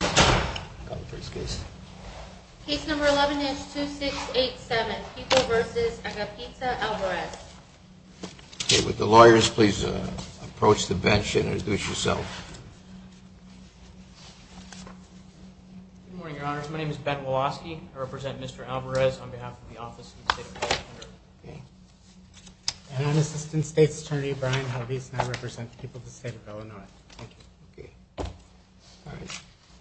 First case case number 11 is 2 6 8 7 people versus a pizza Alvarez with the lawyers. Please approach the bench and introduce yourself. Good morning, Your Honor. My name is Ben Woloski. I represent Mr. Alvarez on behalf of the office. And Assistant State's Attorney Brian how these not represent people to you? No, I'm not.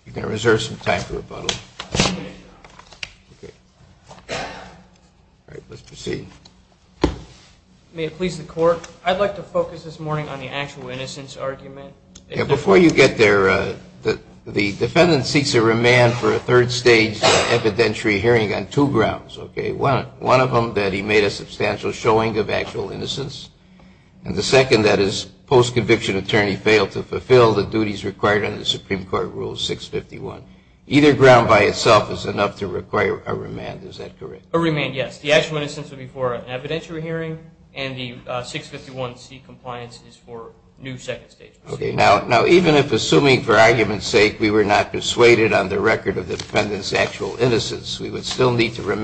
You're going to reserve some time for rebuttal. Let's proceed. May it please the court, I'd like to focus this morning on the actual innocence argument. Before you get there, the defendant seeks a remand for a third stage evidentiary hearing on two grounds. Okay, one of them that he made a substantial showing of actual innocence. And the second that his post-conviction attorney failed to fulfill the duties required under the Supreme Court Rule 651. Either ground by itself is enough to require a remand, is that correct? A remand, yes. The actual innocence would be for an evidentiary hearing and the 651C compliance is for new second stage proceedings. Okay, now even if assuming for argument's sake we were not persuaded on the record of the defendant's actual innocence, we would still need to correct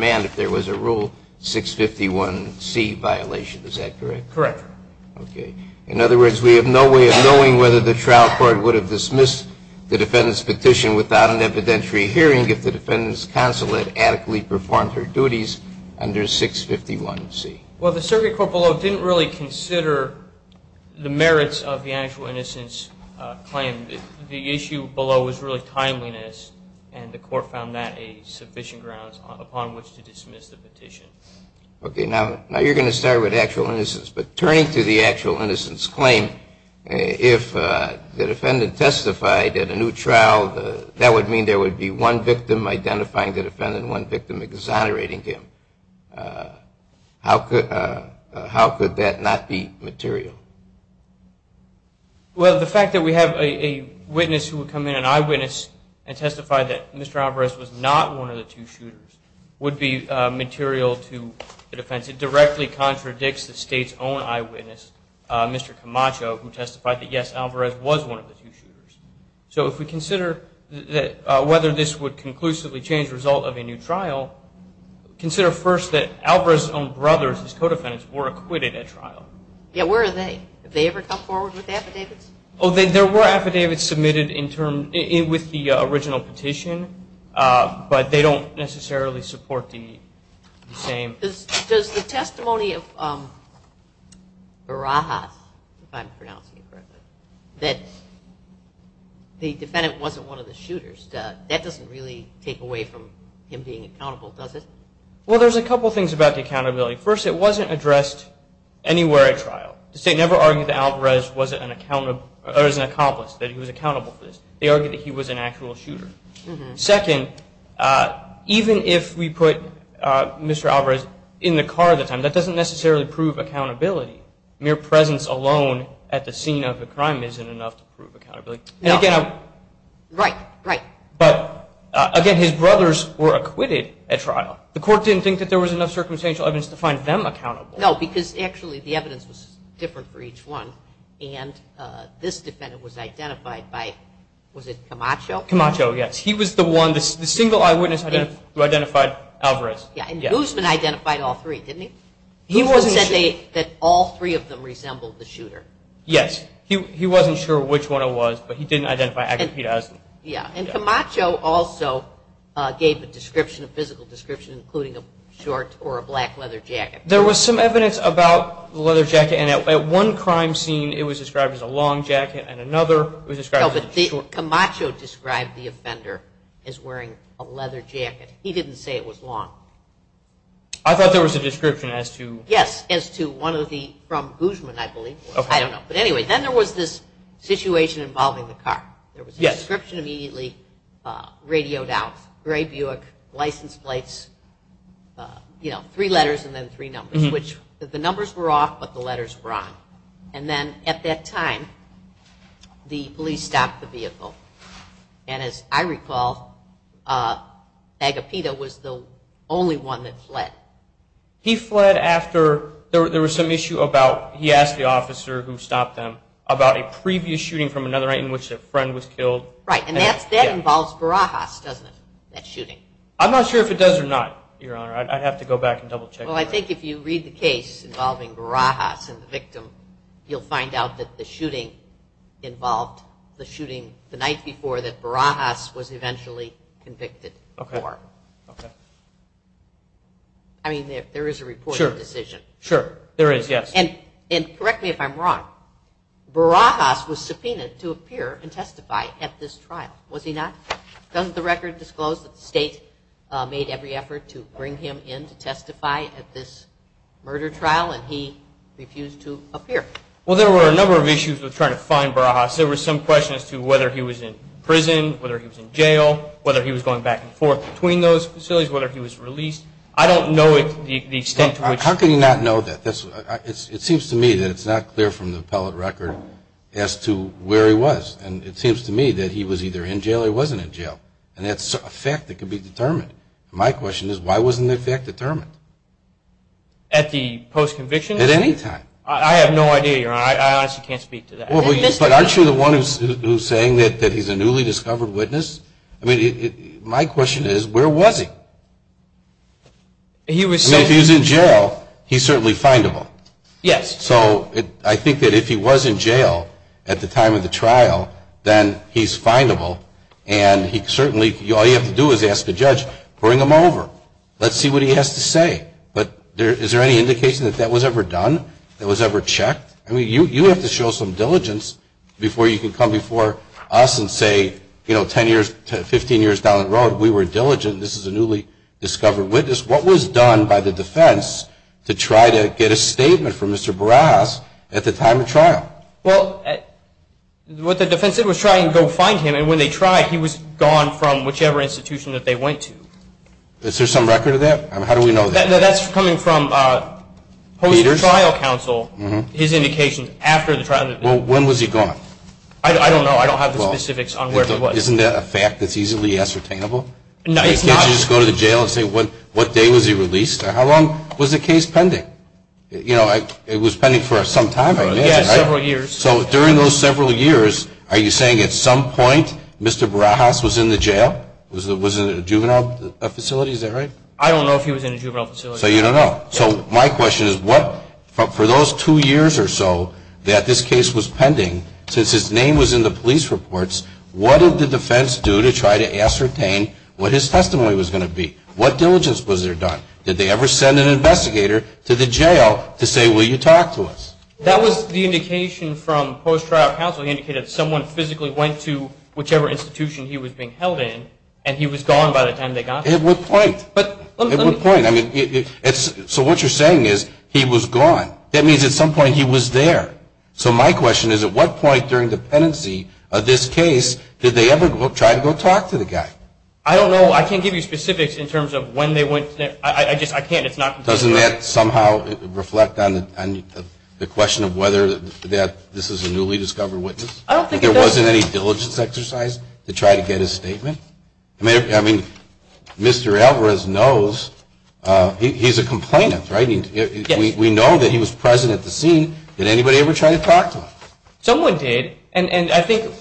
her? Correct. Okay. In other words, we have no way of knowing whether the trial court would have dismissed the defendant's petition without an evidentiary hearing if the defendant's counsel had adequately performed her duties under 651C. Well, the circuit court below didn't really consider the merits of the actual innocence claim. The issue below was really timeliness and the court found that a sufficient grounds upon which to dismiss the petition. Okay, now you're going to start with actual innocence. But turning to the actual innocence claim, if the defendant testified at a new trial, that would mean there would be one victim identifying the defendant, one victim exonerating him. How could that not be material? Well, the fact that we have a witness who would come in, an eyewitness, and testify that Mr. Alvarez was not one of the two shooters would be material to the defense. It directly contradicts the state's own eyewitness, Mr. Camacho, who testified that yes, Alvarez was one of the two shooters. So if we consider whether this would conclusively change the result of a new trial, consider first that Alvarez's own brothers, his co-defendants, were acquitted at trial. Yeah, where are they? Have they ever come forward with affidavits? Oh, there were affidavits submitted with the original petition, but they don't necessarily support the same. Does the testimony of Barajas, if I'm pronouncing it correctly, that the defendant wasn't one of the shooters, that doesn't really take away from him being accountable, does it? Well, there's a couple things about the accountability. First, it wasn't addressed anywhere at trial. The state never argued that Alvarez was an accomplice, that he was accountable for this. They argued that he was an actual shooter. Second, even if we put Mr. Alvarez in the car at the time, that doesn't necessarily prove accountability. Mere presence alone at the scene of the crime isn't enough to prove accountability. But again, his brothers were acquitted at trial. The court didn't think that there was enough circumstantial evidence to find them accountable. No, because actually the evidence was different for each one, and this was the single eyewitness who identified Alvarez. And Guzman identified all three, didn't he? Guzman said that all three of them resembled the shooter. Yes. He wasn't sure which one it was, but he didn't identify Aguilera as the shooter. And Camacho also gave a description, a physical description, including a short or a black leather jacket. There was some evidence about the leather jacket, and at one crime scene it was described as a long jacket, and wearing a leather jacket. He didn't say it was long. I thought there was a description as to... Yes, as to one of the, from Guzman, I believe. I don't know. But anyway, then there was this situation involving the car. There was a description immediately radioed out. Gray Buick, license plates, you know, three letters and then three numbers, which the numbers were off, but the letters were on. And at that time, the police stopped the vehicle. And as I recall, Agapito was the only one that fled. He fled after there was some issue about, he asked the officer who stopped them, about a previous shooting from another night in which a friend was killed. Right, and that involves Barajas, doesn't it, that shooting? I'm not sure if it does or not, Your Honor. I'd have to go back and double check. Well, I think if you read the case involving Barajas and the victim, you'll find out that the shooting involved, the shooting the night before that Barajas was eventually convicted for. Okay. I mean, there is a reported decision. Sure, there is, yes. And correct me if I'm wrong, Barajas was subpoenaed to appear and testify at this trial, was he not? Doesn't the record disclose that the state made every effort to bring him in to testify at this murder trial, and he refused to appear? Well, there were a number of issues with trying to find Barajas. There were some questions to whether he was in prison, whether he was in jail, whether he was going back and forth between those facilities, whether he was released. I don't know the extent to which... How can you not know that? It seems to me that it's not clear from the appellate record as to where he was. And it seems to me that he was either in jail or he wasn't in jail. And that's a fact that can be determined. My question is, why wasn't that fact determined? At the post-conviction? At any time. I have no idea, Your Honor. I honestly can't speak to that. But aren't you the one who's saying that he's a newly discovered witness? I mean, my question is, where was he? I mean, if he was in jail, he's certainly findable. Yes. So I think that if he was in jail at the time of the trial, then he's findable. And he certainly, all you have to do is ask the judge, bring him over. Let's see what he has to say. But is there any indication that that was ever done? That was ever checked? I mean, you have to show some diligence before you can come before us and say, you know, 10 years, 15 years down the road, we were diligent. This is a newly discovered witness. What was done by the defense to try to get a statement from Mr. Barajas at the time of trial? Well, what the defense said was try and go find him. And when they tried, he was gone from whichever institution that they went to. Is there some record of that? I mean, how do we know that? That's coming from host trial counsel, his indication after the trial. Well, when was he gone? I don't know. I don't have the specifics on where he was. Isn't that a fact that's easily ascertainable? No, it's not. You can't just go to the jail and say, what day was he released? How long was the case pending? You know, it was pending for some time, I imagine. Yes, several years. So during those several years, are you saying at some point Mr. Barajas was in the jail? Was it a juvenile facility? Is that right? I don't know if he was in a juvenile facility. So you don't know. So my question is what, for those two years or so that this case was pending, since his name was in the police reports, what did the defense do to try to ascertain what his testimony was going to be? What diligence was there done? Did they ever send an investigator to the jail to say, will you talk to us? That was the indication from host trial counsel. He indicated that someone physically went to whichever institution he was being held in and he was gone by the time they got there. At what point? At what point? So what you're saying is he was gone. That means at some point he was there. So my question is at what point during the pendency of this case did they ever try to go talk to the guy? I don't know. I can't give you specifics in terms of when they went there. I just can't. Doesn't that somehow reflect on the question of whether this is a newly discovered witness? I don't think it does. There wasn't any diligence exercised to try to get his statement? I mean, Mr. Alvarez knows. He's a complainant, right? We know that he was present at the scene. Did anybody ever try to talk to him? Someone did. And I think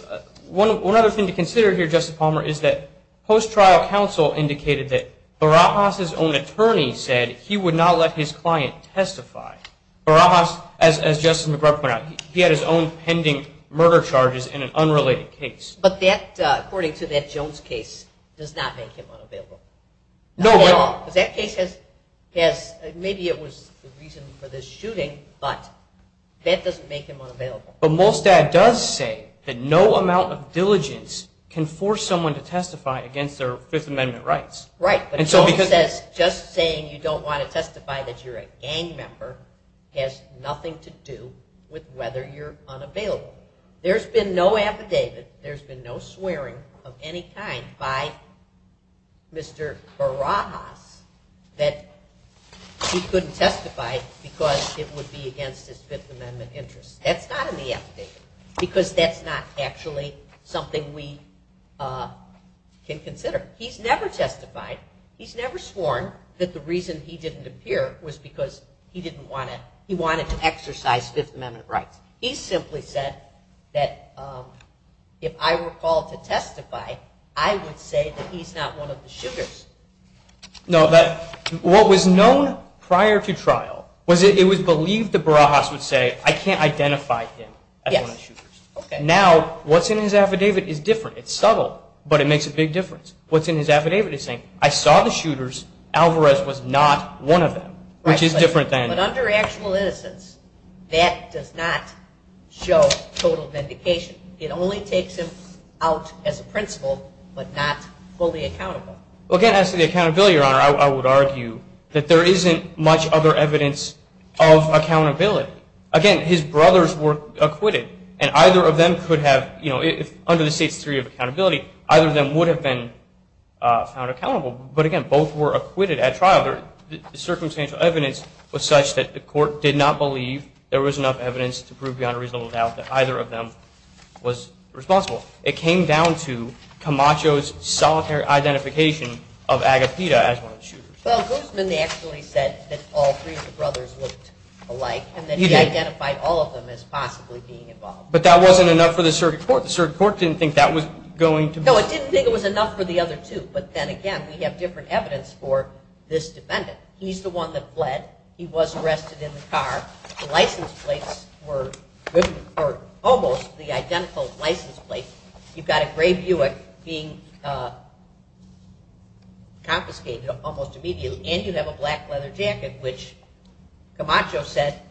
one other thing to consider here, Justice Palmer, is that host trial counsel indicated that Barajas' own attorney said he would not let his client testify. Barajas, as Justice McGrubb pointed out, he had his own pending murder charges in an unrelated case. But that, according to that Jones case, does not make him unavailable. Not at all. Because that case has, maybe it was the reason for this shooting, but that doesn't make him unavailable. But Molstad does say that no amount of diligence can force someone to testify against their Fifth Amendment rights. Right. But Jones says just saying you don't want to testify that you're a gang member has nothing to do with whether you're unavailable. There's been no affidavit, there's been no swearing of any kind by Mr. Barajas that he couldn't testify because it would be against his Fifth Amendment interests. That's not in the affidavit. Because that's not actually something we can consider. He's never testified, he's never sworn that the reason he didn't appear was because he didn't want to, he wanted to exercise Fifth Amendment rights. He simply said that if I were called to testify, I would say that he's not one of the shooters. No, what was known prior to trial was that it was believed that Barajas would say, I can't identify him as one of the shooters. Now, what's in his affidavit is different. It's subtle, but it makes a big difference. What's in his affidavit is saying, I saw the shooters, Alvarez was not one of them, which is different But under actual innocence, that does not show total vindication. It only takes him out as a principal, but not fully accountable. Again, as to the accountability, Your Honor, I would argue that there isn't much other evidence of accountability. Again, his brothers were acquitted and either of them could have, you know, if under the States Theory of Accountability, either of them would have been found accountable. But again, both were acquitted at trial. Circumstantial evidence was such that the court did not believe there was enough evidence to prove, Your Honor, reasonable doubt that either of them was responsible. It came down to Camacho's solitary identification of Agapita as one of the shooters. Well, Guzman, they actually said that all three of the brothers looked alike and that he identified all of them as possibly being involved. But that wasn't enough for the circuit court. The circuit court didn't think that was going to... No, it didn't think it was enough for the other two. But then again, we have different evidence for this defendant. He's the one that bled. He was arrested in the car. The license plates were almost the identical license plate. You've got a gray Buick being confiscated almost immediately. And you have a black leather jacket, which Camacho said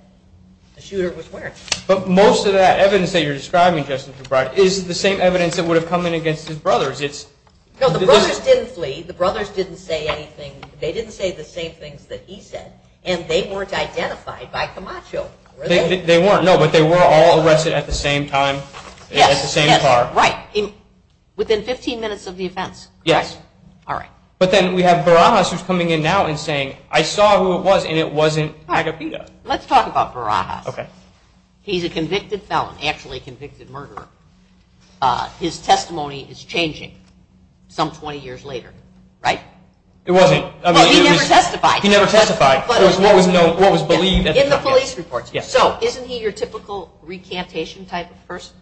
the shooter was wearing. But most of that evidence that you're describing, Justice O'Brien, is the same evidence that would have come in against his brothers. No, the brothers didn't flee. The brothers didn't say anything. They didn't say the same things that he said. And they weren't identified by Camacho. They weren't. No, but they were all arrested at the same time, at the same car. Right. Within 15 minutes of the offense. Yes. All right. But then we have Barajas who's coming in now and saying, I saw who it was and it wasn't Agapita. Let's talk about Barajas. He's a convicted felon, actually convicted murderer. His testimony is changing some 20 years later, right? It wasn't. He never testified. He never testified. It was what was known, what was believed. In the police reports. Yes. So isn't he your typical recantation type of person?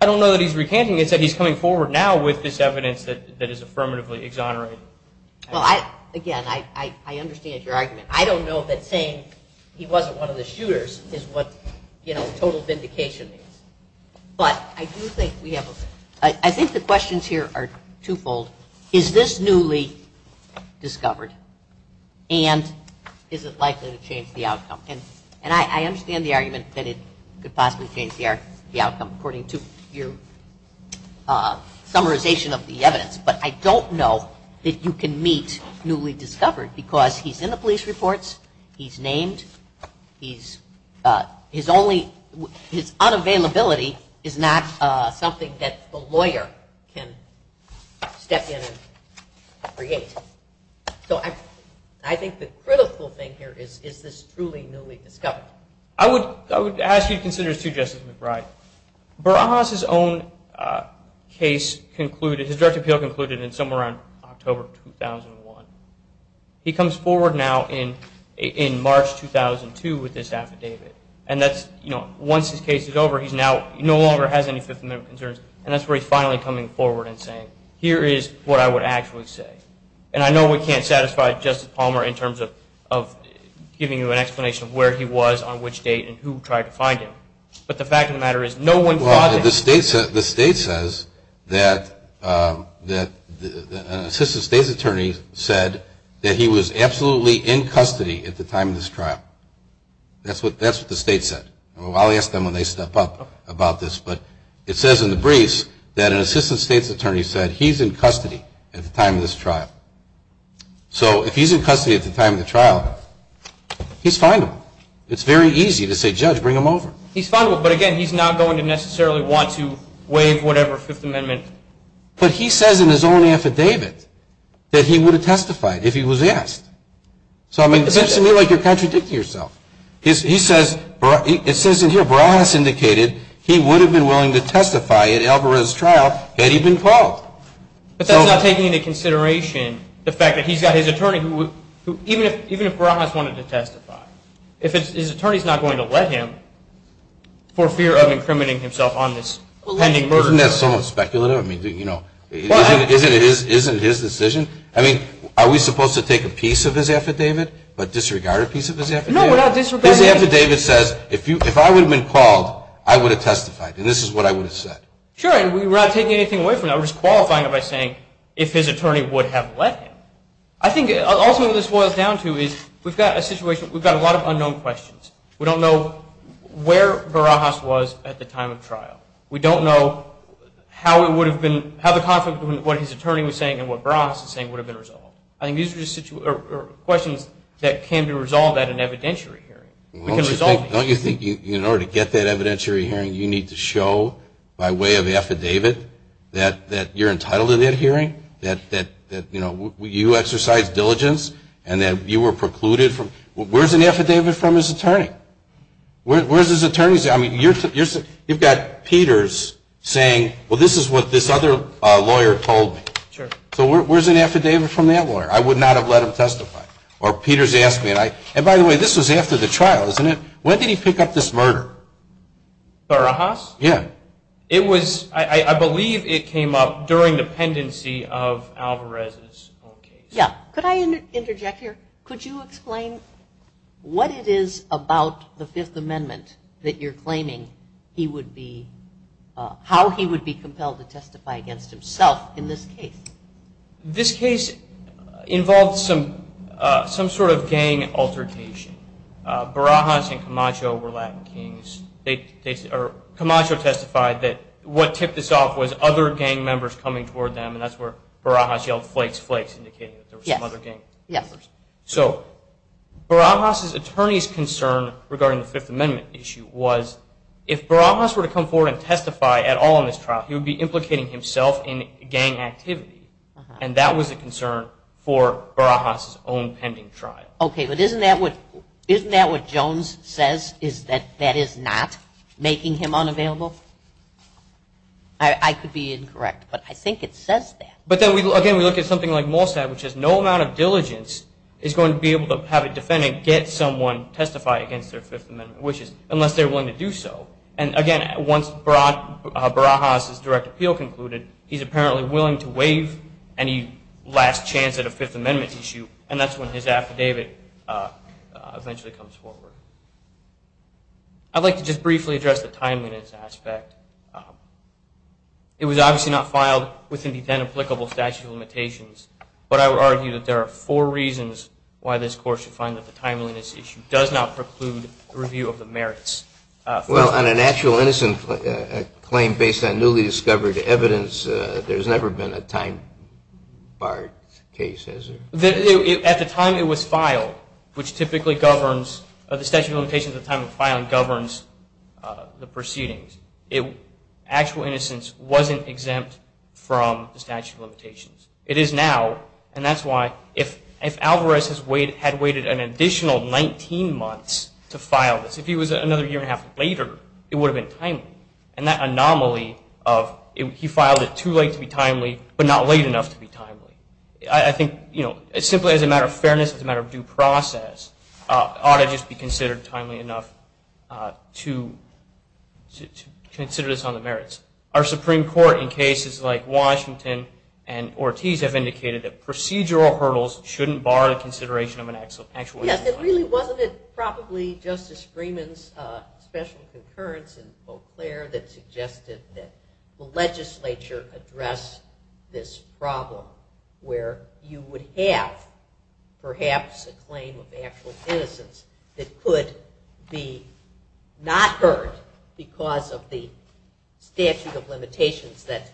I don't know that he's recanting. It's that he's coming forward now with this evidence that is affirmatively exonerated. Well, again, I understand your argument. I don't know that saying he wasn't one of the shooters is what, you But I do think we have a, I think the questions here are twofold. Is this newly discovered and is it likely to change the outcome? And I understand the argument that it could possibly change the outcome according to your summarization of the evidence, but I don't know that you can meet newly discovered because he's in the police reports, he's named, he's only, his unavailability is not something that the lawyer can step in and create. So I think the critical thing here is, is this truly newly discovered? I would ask you to consider this too, Justice McBride. Barajas' own case concluded, his direct appeal concluded in somewhere around October 2001. He comes forward now case is over, he's now, he no longer has any Fifth Amendment concerns, and that's where he's finally coming forward and saying, here is what I would actually say. And I know we can't satisfy Justice Palmer in terms of, of giving you an explanation of where he was, on which date, and who tried to find him. But the fact of the matter is, no one Well, the state says, the state says that, that an assistant state's attorney said that he was absolutely in custody at the time of this trial. That's what, that's what the state said. I'll ask them when they step up about this, but it says in the briefs that an assistant state's attorney said he's in custody at the time of this trial. So if he's in custody at the time of the trial, he's findable. It's very easy to say, judge, bring him over. He's findable, but again, he's not going to necessarily want to waive whatever Fifth Amendment. But he says in his own affidavit that he would have testified if he was asked. So I mean, it seems to me like you're It says in here, Barahas indicated he would have been willing to testify at Alvarez trial had he been called. But that's not taking into consideration the fact that he's got his attorney who would, even if Barahas wanted to testify, if his attorney's not going to let him for fear of incriminating himself on this pending murder charge. Isn't that so speculative? I mean, you know, isn't it his decision? I mean, are we supposed to take a piece of his affidavit, a disregarded piece of his affidavit says, if I would have been called, I would have testified. And this is what I would have said. Sure. And we're not taking anything away from that. We're just qualifying it by saying if his attorney would have let him. I think also this boils down to is we've got a situation, we've got a lot of unknown questions. We don't know where Barahas was at the time of trial. We don't know how it would have been, how the conflict between what his attorney was saying and what Barahas was saying would have been resolved. I think these are questions that can resolve at an evidentiary hearing. Don't you think in order to get that evidentiary hearing you need to show by way of affidavit that you're entitled to that hearing, that you exercised diligence and that you were precluded from, where's an affidavit from his attorney? Where's his attorney's, I mean, you've got Peters saying, well, this is what this other lawyer told me. Sure. So where's an affidavit from that lawyer? I would not have let him And by the way, this was after the trial, isn't it? When did he pick up this murder? Barahas? Yeah. It was, I believe it came up during the pendency of Alvarez's own case. Yeah. Could I interject here? Could you explain what it is about the Fifth Amendment that you're claiming he would be, how he would be compelled to testify against himself in this case? This case involved some sort of gang altercation. Barahas and Camacho were Latin kings. Camacho testified that what tipped this off was other gang members coming toward them, and that's where Barahas yelled flakes, flakes indicating that there were some other gang members. Yes. So Barahas's attorney's concern regarding the Fifth Amendment issue was if Barahas were to come forward and testify at all in this trial, he would be implicating himself in concern for Barahas's own pending trial. Okay, but isn't that what, isn't that what Jones says is that that is not making him unavailable? I could be incorrect, but I think it says that. But then we, again, we look at something like Mossad, which has no amount of diligence, is going to be able to have a defendant get someone testify against their Fifth Amendment wishes unless they're willing to do so. And again, once Barahas's direct appeal concluded, he's apparently willing to waive any last chance at a Fifth Amendment issue, and that's when his affidavit eventually comes forward. I'd like to just briefly address the timeliness aspect. It was obviously not filed within the 10 applicable statute of limitations, but I would argue that there are four reasons why this Court should find that the timeliness issue does not preclude the review of the merits. Well, on an actual innocent claim based on newly discovered evidence, there's never been a time bar case, has there? At the time it was filed, which typically governs the statute of limitations at the time of filing governs the proceedings. Actual innocence wasn't exempt from the statute of limitations. It is now, and that's why if Alvarez had waited an additional 19 months to file this, if he was another year and a half later, it would have been an anomaly of he filed it too late to be timely, but not late enough to be timely. I think, you know, simply as a matter of fairness, as a matter of due process, it ought to just be considered timely enough to consider this on the merits. Our Supreme Court in cases like Washington and Ortiz have indicated that procedural hurdles shouldn't bar the consideration of an actual innocence. Yes, it really wasn't it probably Justice Freeman's special concurrence in Eau Claire that suggested that the legislature address this problem where you would have perhaps a claim of actual innocence that could be not heard because of the statute of limitations that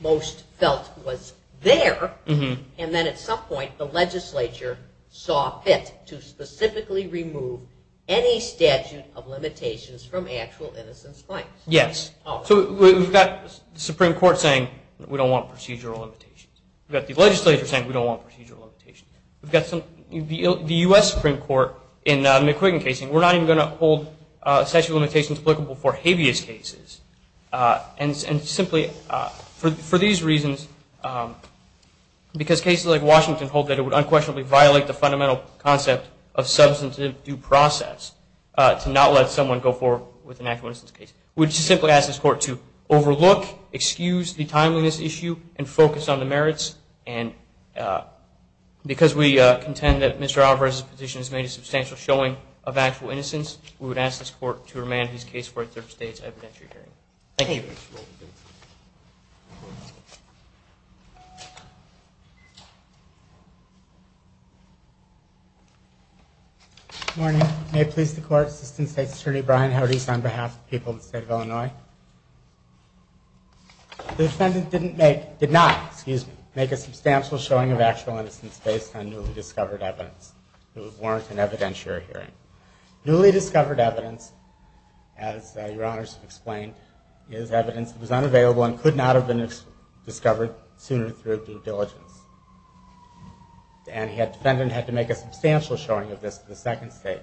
most felt was there, and then at some point the legislature saw fit to specifically remove any statute of limitations from actual innocence claims. Yes, so we've got the Supreme Court saying we don't want procedural limitations. We've got the legislature saying we don't want procedural limitations. We've got the U.S. Supreme Court in McQuiggan's case saying we're not even going to hold statute of limitations applicable for habeas cases, and simply for these reasons, because cases like Washington hold that it would unquestionably violate the fundamental concept of substantive due process to not let someone go forward with an actual innocence case. We would just simply ask this court to overlook, excuse the timeliness issue, and focus on the merits, and because we contend that Mr. Alvarez's petition has made a substantial showing of actual innocence, we would ask this court to remand his case for a third stage evidentiary hearing. Thank you. Good morning. May it please the court, Assistant State Secretary Bryan, how do you do this on behalf of the people of the state of Illinois? The defendant did not make a substantial showing of actual innocence based on newly discovered evidence. It would warrant an evidentiary hearing. Newly discovered evidence, as your honors have explained, is evidence that was unavailable and could not have been discovered sooner through due diligence. And the defendant had to make a substantial showing of this for the second stage.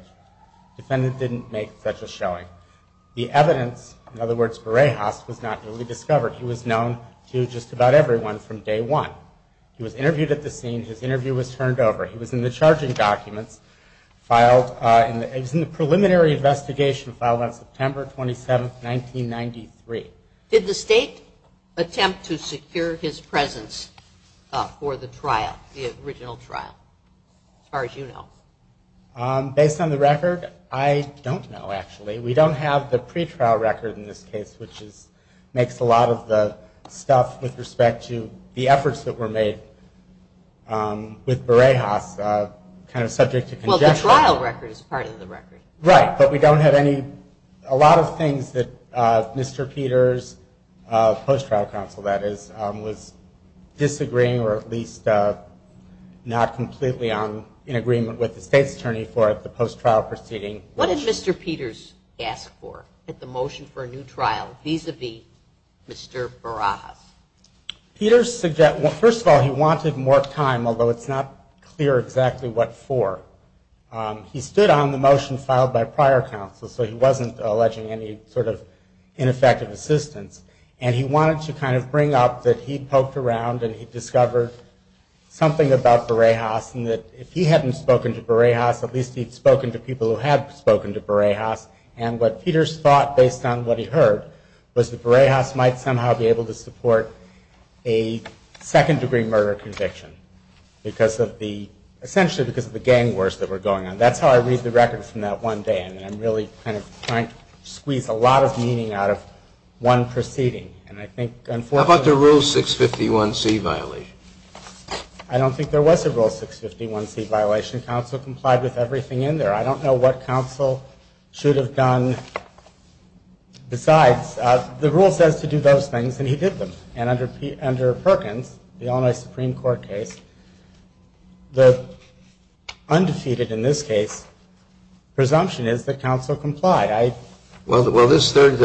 The defendant didn't make such a showing. The evidence, in other words, Burejas, was not newly discovered. He was known to just about everyone from day one. He was interviewed at the scene, his interview was turned over, he was in the charging documents, filed in the preliminary investigation filed on September 27th, 1993. Did the state attempt to secure his presence for the trial, the original trial, as far as you know? Based on the record, I don't know, actually. We don't have the pretrial record in this case, which makes a lot of the stuff with respect to the efforts that were made with Burejas kind of subject to conjecture. Well, the trial record is part of the record. Right, but we don't have any, a lot of things that Mr. Peters, post-trial counsel that is, was disagreeing or at least not completely in agreement with the state's attorney for the post-trial proceeding. What did Mr. Peters ask for at the motion for a new trial vis-a-vis Mr. Burejas? Peters suggested, well, first of all, he wanted more time, although it's not clear exactly what for. He stood on the motion filed by prior counsel, so he wasn't alleging any sort of ineffective assistance, and he wanted to kind of bring up that he poked around and he had spoken to people who had spoken to Burejas, and what Peters thought based on what he heard was that Burejas might somehow be able to support a second degree murder conviction because of the, essentially because of the gang wars that were going on. That's how I read the record from that one day, and I'm really kind of trying to squeeze a lot of meaning out of one proceeding, and I think, unfortunately. How about the rule 651C violation? I don't think there was a rule 651C violation. Counsel complied with everything in there. I don't know what counsel should have done besides. The rule says to do those things, and he did them, and under Perkins, the Illinois Supreme Court case, the undefeated, in this case, presumption is that counsel complied. Well, this third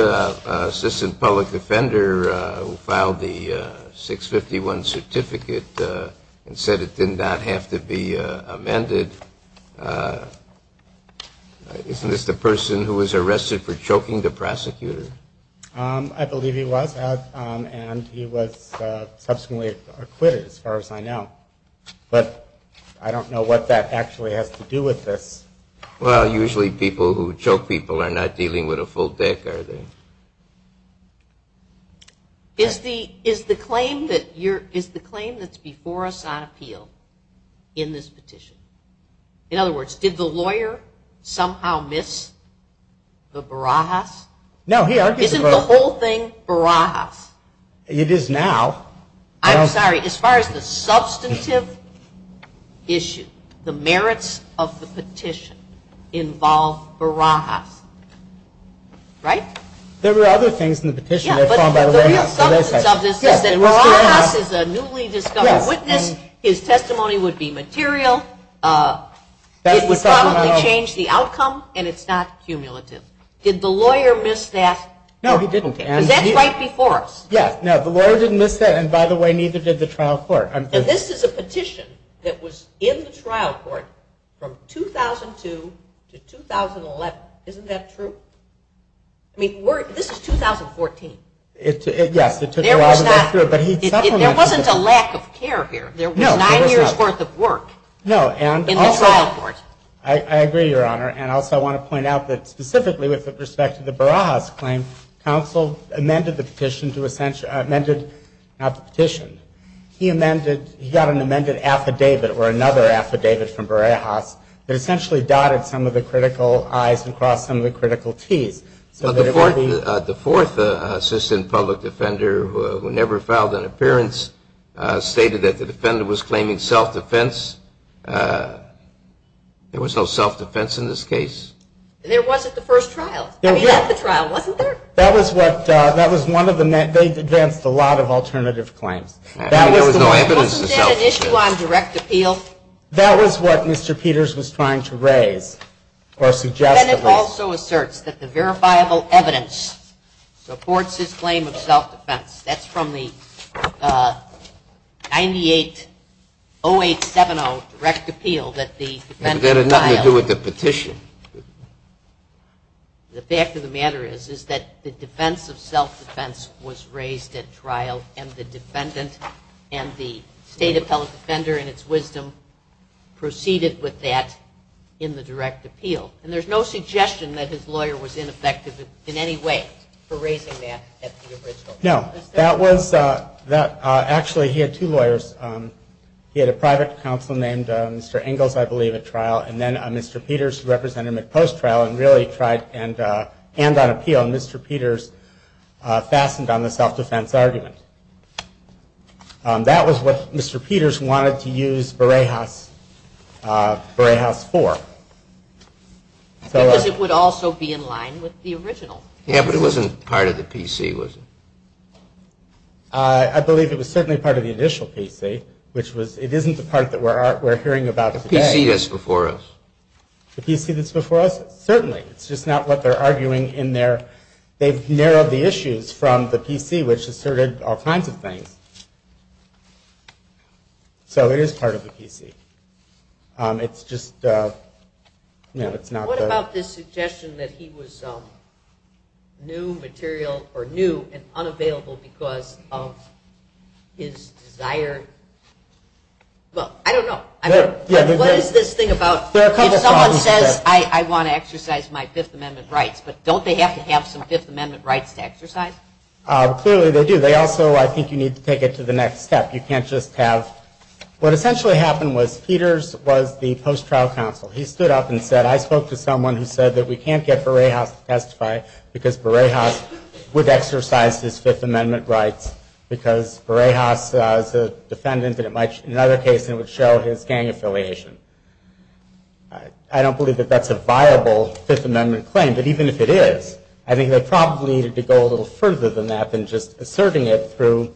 assistant public offender filed the 651 certificate and said it did not have to be amended. Isn't this the person who was arrested for choking the prosecutor? I believe he was, and he was subsequently acquitted, as far as I know, but I don't know what that actually has to do with this. Well, usually people who choke people are not dealing with a full deck, are they? Is the claim that you're, is the claim that's before us on this petition? In other words, did the lawyer somehow miss the Barajas? No, he argued the Barajas. Isn't the whole thing Barajas? It is now. I'm sorry, as far as the substantive issue, the merits of the petition involve Barajas, right? There were other things in the petition that were found by the White House. But the substance of this is that Barajas is a newly discovered witness, his testimony would be material, it would probably change the outcome, and it's not cumulative. Did the lawyer miss that? No, he didn't. Because that's right before us. Yes, no, the lawyer didn't miss that, and by the way, neither did the trial court. And this is a petition that was in the trial court from 2002 to 2011. Isn't that true? I mean, this is 2014. Yes, it took a while to get through, but he supplemented it. There wasn't a lack of care here. There was nine years' worth of work in the trial court. No, and also I agree, Your Honor, and also I want to point out that specifically with respect to the Barajas claim, counsel amended the petition to essentially, amended, not the petition, he amended, he got an amended affidavit or another affidavit from Barajas that essentially dotted some of the critical I's and crossed some of the critical T's. But the fourth assistant public defender who never filed an appearance stated that the defender was claiming self-defense. There was no self-defense in this case. There wasn't the first trial. I mean, at the trial, wasn't there? That was what, that was one of the, they advanced a lot of alternative claims. I mean, there was no evidence of self-defense. Wasn't that an issue on direct appeal? That was what Mr. Peters was trying to raise, or suggest, at least. The defendant also asserts that the verifiable evidence supports his claim of self-defense. That's from the 98-0870 direct appeal that the defendant filed. But that had nothing to do with the petition. The fact of the matter is, is that the defense of self-defense was raised at trial and the defendant and the state appellate defender in its wisdom proceeded with that in the direct appeal. And there's no suggestion that his lawyer was ineffective in any way for that. That was, that, actually, he had two lawyers. He had a private counsel named Mr. Ingalls, I believe, at trial, and then Mr. Peters represented him at post-trial and really tried and, and on appeal, and Mr. Peters fastened on the self-defense argument. That was what Mr. Peters wanted to use Burejas, Burejas for. Because it would also be in line with the original. Yeah, but it wasn't part of the PC, was it? I believe it was certainly part of the initial PC, which was, it isn't the part that we're, we're hearing about today. The PC that's before us. The PC that's before us? Certainly. It's just not what they're arguing in their, they've narrowed the issues from the PC, which asserted all kinds of things. So it is part of the PC. It's just, you know, it's not. What about this material or new and unavailable because of his desire? Well, I don't know. I mean, what is this thing about, if someone says, I want to exercise my Fifth Amendment rights, but don't they have to have some Fifth Amendment rights to exercise? Clearly they do. They also, I think you need to take it to the next step. You can't just have, what essentially happened was Peters was the post-trial counsel. He stood up and said, I spoke to someone who said that we can't get Burejas to testify because Burejas would exercise his Fifth Amendment rights because Burejas, as a defendant, in another case it would show his gang affiliation. I don't believe that that's a viable Fifth Amendment claim, but even if it is, I think they probably needed to go a little further than that than just asserting it through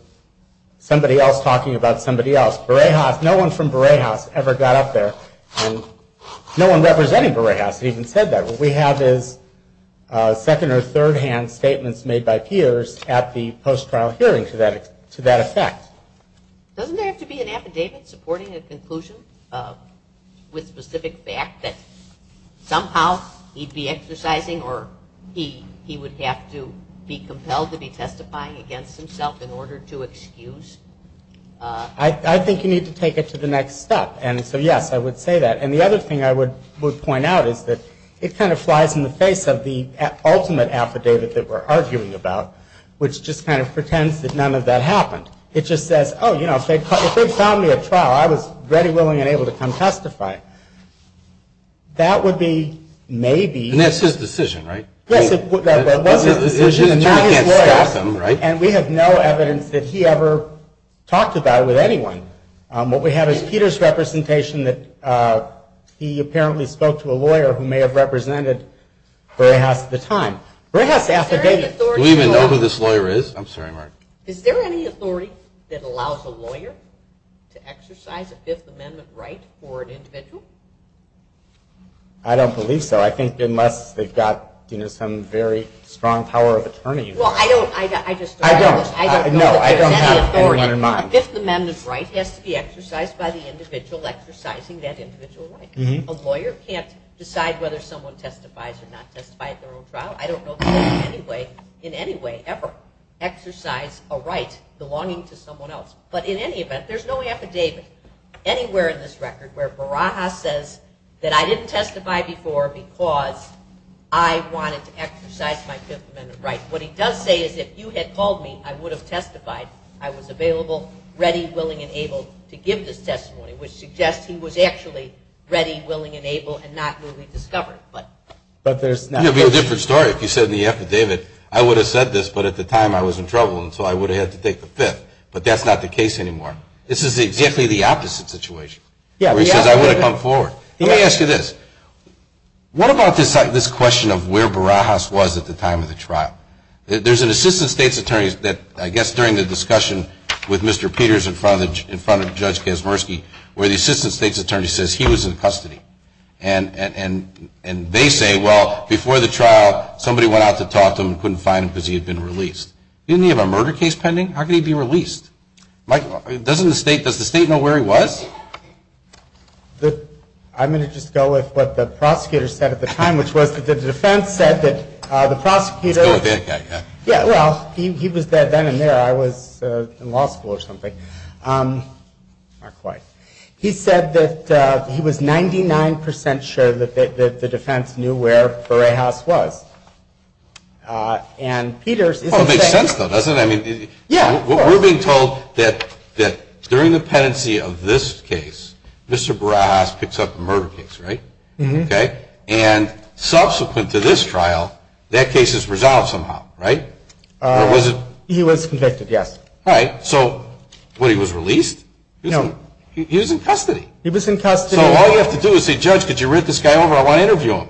somebody else talking about somebody else. Burejas, no one from Burejas ever got up there. No one representing Burejas even said that. What we have is second or third hand statements made by Peters at the post-trial hearing to that effect. Doesn't there have to be an affidavit supporting a conclusion with specific fact that somehow he'd be exercising or he would have to be compelled to be testifying against himself in order to excuse? I think you need to take it to the next step. And so yes, I would say that. And the other thing I would point out is that it kind of flies in the face of the ultimate affidavit that we're arguing about, which just kind of pretends that none of that happened. It just says, oh, you know, if they found me at trial, I was ready, willing, and able to come testify. That would be maybe... And that's his decision, right? Yes, it was his decision. And you can't stop him, right? And we have no evidence that he ever talked about with anyone. What we have is Peters' representation that he apparently spoke to a lawyer who may have represented Brayhouse at the time. Brayhouse's affidavit... Do we even know who this lawyer is? I'm sorry, Mark. Is there any authority that allows a lawyer to exercise a Fifth Amendment right for an individual? I don't believe so. I think unless they've got, you know, some very strong power of attorney... Well, I don't... I don't. No, I don't have anyone in mind. A Fifth Amendment right has to be exercising that individual right. A lawyer can't decide whether someone testifies or not testify at their own trial. I don't know anyone in any way ever exercise a right belonging to someone else. But in any event, there's no affidavit anywhere in this record where Brayhouse says that I didn't testify before because I wanted to exercise my Fifth Amendment right. What he does say is if you had called me, I would have testified. I was available, ready, willing, and able to give this testimony, which suggests he was actually ready, willing, and able, and not newly discovered. But there's not... It would be a different story if you said in the affidavit, I would have said this, but at the time I was in trouble, and so I would have had to take the Fifth. But that's not the case anymore. This is exactly the opposite situation, where he says I would have come forward. Let me ask you this. What about this question of where Brayhouse was at the time of the trial? There's an assistant state's attorney that, I guess, during the discussion with Mr. Peters in front of Judge Kazmersky, where the assistant state's attorney says he was in custody. And they say, well, before the trial, somebody went out to talk to him and couldn't find him because he had been released. Didn't he have a murder case pending? How could he be released? Mike, doesn't the state... Does the state know where he was? I'm going to just go with what the prosecutor said at the time, which was that the defense said that the prosecutor... Let's go with that guy. Yeah, well, he was there then and there. I was in law school or not quite. He said that he was 99% sure that the defense knew where Brayhouse was. And Peters... Well, it makes sense, though, doesn't it? I mean, we're being told that during the penancy of this case, Mr. Brayhouse picks up the murder case, right? Okay. And subsequent to this trial, that case is resolved somehow, right? Or was it... He was convicted, yes. All right. So what, he was released? No. He was in custody. He was in custody. So all you have to do is say, judge, could you writ this guy over? I want to interview him.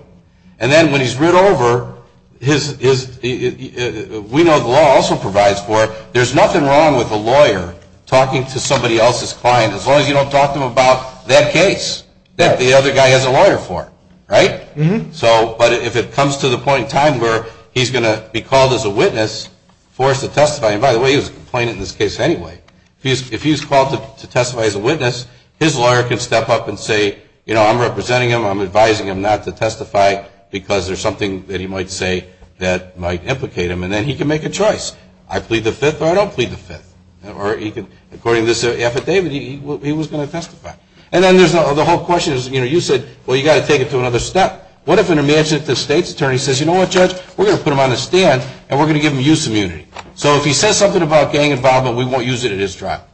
And then when he's writ over, his... We know the law also provides for it. There's nothing wrong with a lawyer talking to somebody else's client as long as you don't talk to him about that case that the other guy has a lawyer for, right? So, but if it comes to the point in time where he's going to be called as a witness for us to testify... And by the way, he was complaining in this case anyway. If he's called to testify as a witness, his lawyer can step up and say, you know, I'm representing him. I'm advising him not to testify because there's something that he might say that might implicate him. And then he can make a choice. I plead the fifth or I don't plead the fifth. Or he could, according to this affidavit, he was going to testify. And then there's the whole question is, you know, you said, well, you got to take it to another step. What if an imaginative state's attorney says, you know what, judge? We're going to put him on the stand and we're going to give him use immunity. So if he says something about gang involvement, we won't use it in his trial.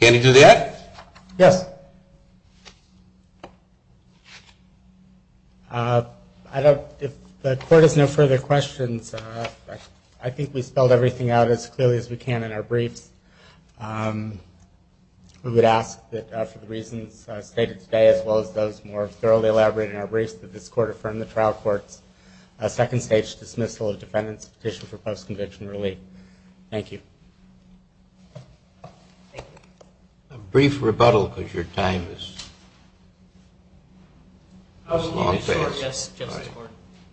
Can he do that? Yes. I don't... If the court has no further questions, I think we spelled everything out as clearly as we can in our briefs. We would ask that for the reasons stated today, as well as those more thoroughly elaborated in our briefs, that this court affirm the trial court's second stage dismissal of defendant's petition for post-conviction relief. Thank you. A brief rebuttal, because your time is...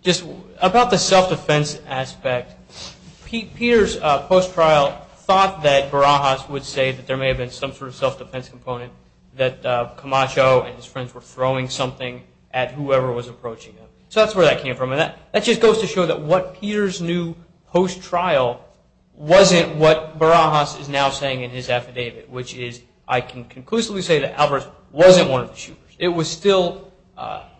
Just about the self-defense aspect. Peter's post-trial thought that Barajas would say that there may have been some sort of self-defense component, that Camacho and his friends were throwing something at whoever was approaching him. So that's where that came from. And that just goes to show that what Peter's new post-trial wasn't what Barajas is now saying in his affidavit, which is, I can conclusively say that Alvarez wasn't one of the shooters. It was still,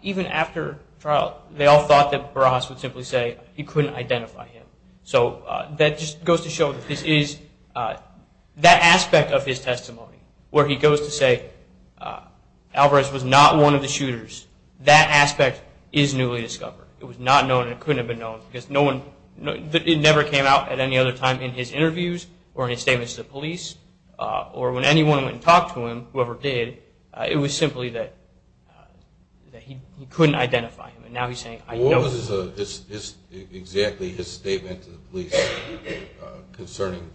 even after trial, they all thought that Barajas would simply say he couldn't identify him. So that just goes to show that this is... That aspect of his testimony, where he goes to say, Alvarez was not one of the shooters, that aspect is newly discovered. It was not known and it couldn't have been known because it never came out at any other time in his interviews or in his statements to the police or when anyone went and talked to him, whoever did, it was simply that he couldn't identify him. And now he's saying, I know. What was exactly his statement to the police concerning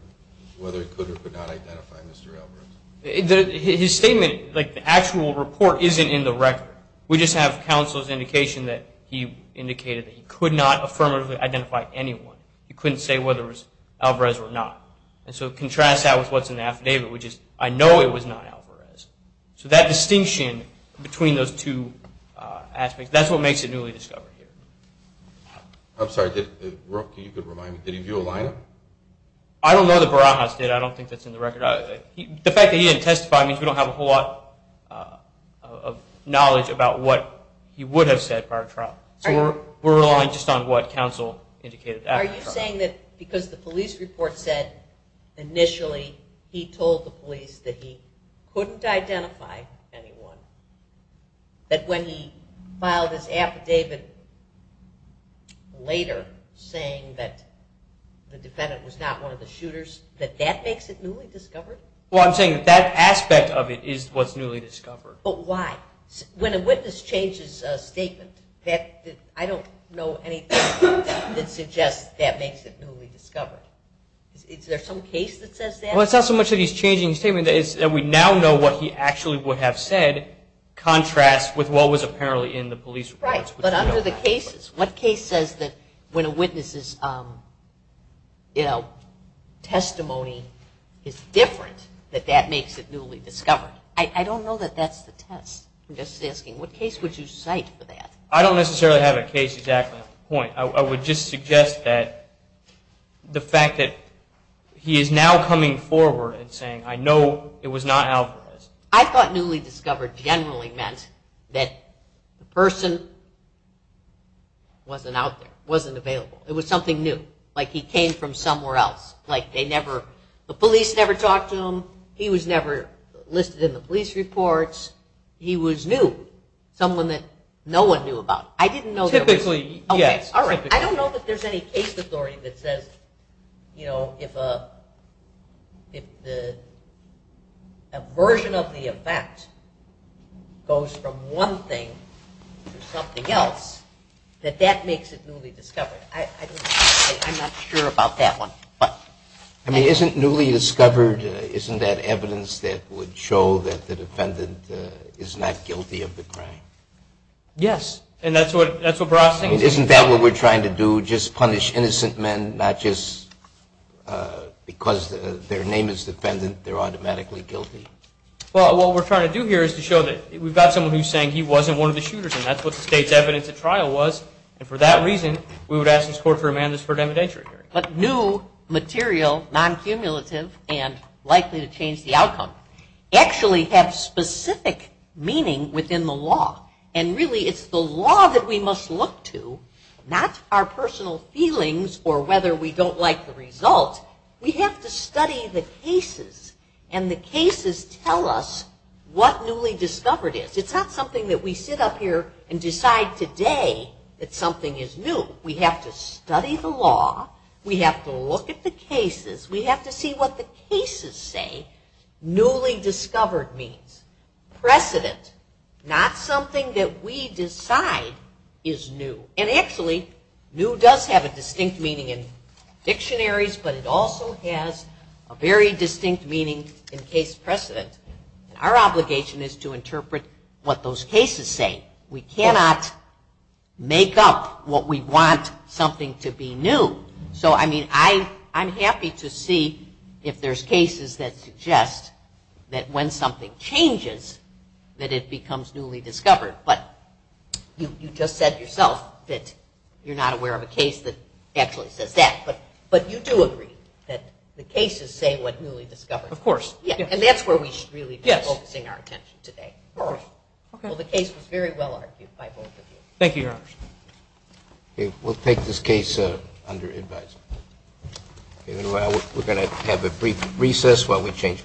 whether he could or could not identify Mr. Alvarez? His statement, like the actual report, isn't in the record. We just have counsel's indication that he indicated that he could not affirmatively identify anyone. He couldn't say whether it was Alvarez or not. And so it contrasts that with what's in the affidavit, which is, I know it was not Alvarez. So that distinction between those two aspects, that's what makes it newly discovered here. I'm sorry, did, Rookie, you could remind me, did he view a lineup? I don't know that Barajas did. I don't think that's in the record. The fact that he didn't testify means we don't have a whole lot of knowledge about what he would have said prior trial. So we're relying just on what counsel indicated. Are you saying that because the police report said initially he told the police that he couldn't identify anyone, that when he filed his affidavit later, saying that the defendant was not one of the shooters, that that makes it newly discovered? Well, I'm saying that that aspect of it is what's newly discovered. But why? When a witness changes a statement, I don't know anything that suggests that makes it newly discovered. Is there some case that says that? Well, it's not so much that he's changing his statement, it's that we now know what he actually would have said contrasts with what was apparently in the police reports. Right, but under the cases, what case says that when a witness's testimony is different, that that makes it newly discovered? I don't know that that's the test. I'm just asking, what case would you cite for that? I don't necessarily have a case exactly at that point. I would just suggest that the fact that he is now coming forward and saying, I know it was not Alvarez. I thought newly discovered generally meant that the person wasn't out there, wasn't available. It was something new, like he came from somewhere else, like they never, the police never talked to him, he was never listed in the police reports. He was new, someone that no one knew about. Typically, yes. I don't know that there's any case authority that says, you know, if a version of the event goes from one thing to something else, that that makes it newly discovered. I'm not sure about that one. Isn't newly discovered, isn't that evidence that would show that the defendant is not guilty of the crime? Yes. And that's what we're processing? Isn't that what we're trying to do, just punish innocent men, not just because their name is defendant, they're automatically guilty? Well, what we're trying to do here is to show that we've got someone who's saying he wasn't one of the shooters and that's what the state's evidence at trial was. And for that reason, we would ask this court for amendments for the evidentiary hearing. But new material, non-cumulative and likely to change the case, doesn't really have specific meaning within the law. And really it's the law that we must look to, not our personal feelings or whether we don't like the result. We have to study the cases and the cases tell us what newly discovered is. It's not something that we sit up here and decide today that something is new. We have to study the law. We have to look at the cases. We have to see what the cases say. Newly discovered means precedent, not something that we decide is new. And actually, new does have a distinct meaning in dictionaries, but it also has a very distinct meaning in case precedent. Our obligation is to interpret what those cases say. We cannot make up what we want something to be new. So, I mean, I'm happy to see if there's cases that suggest that when something changes, that it becomes newly discovered. But you just said yourself that you're not aware of a case that actually says that. But you do agree that the cases say what newly discovered. Of course. And that's where we should really be focusing our attention today. Well, the case was very well argued by both of you. Thank you, Your Honor. We'll take this case under advisory. We're going to have a brief recess while we change panels.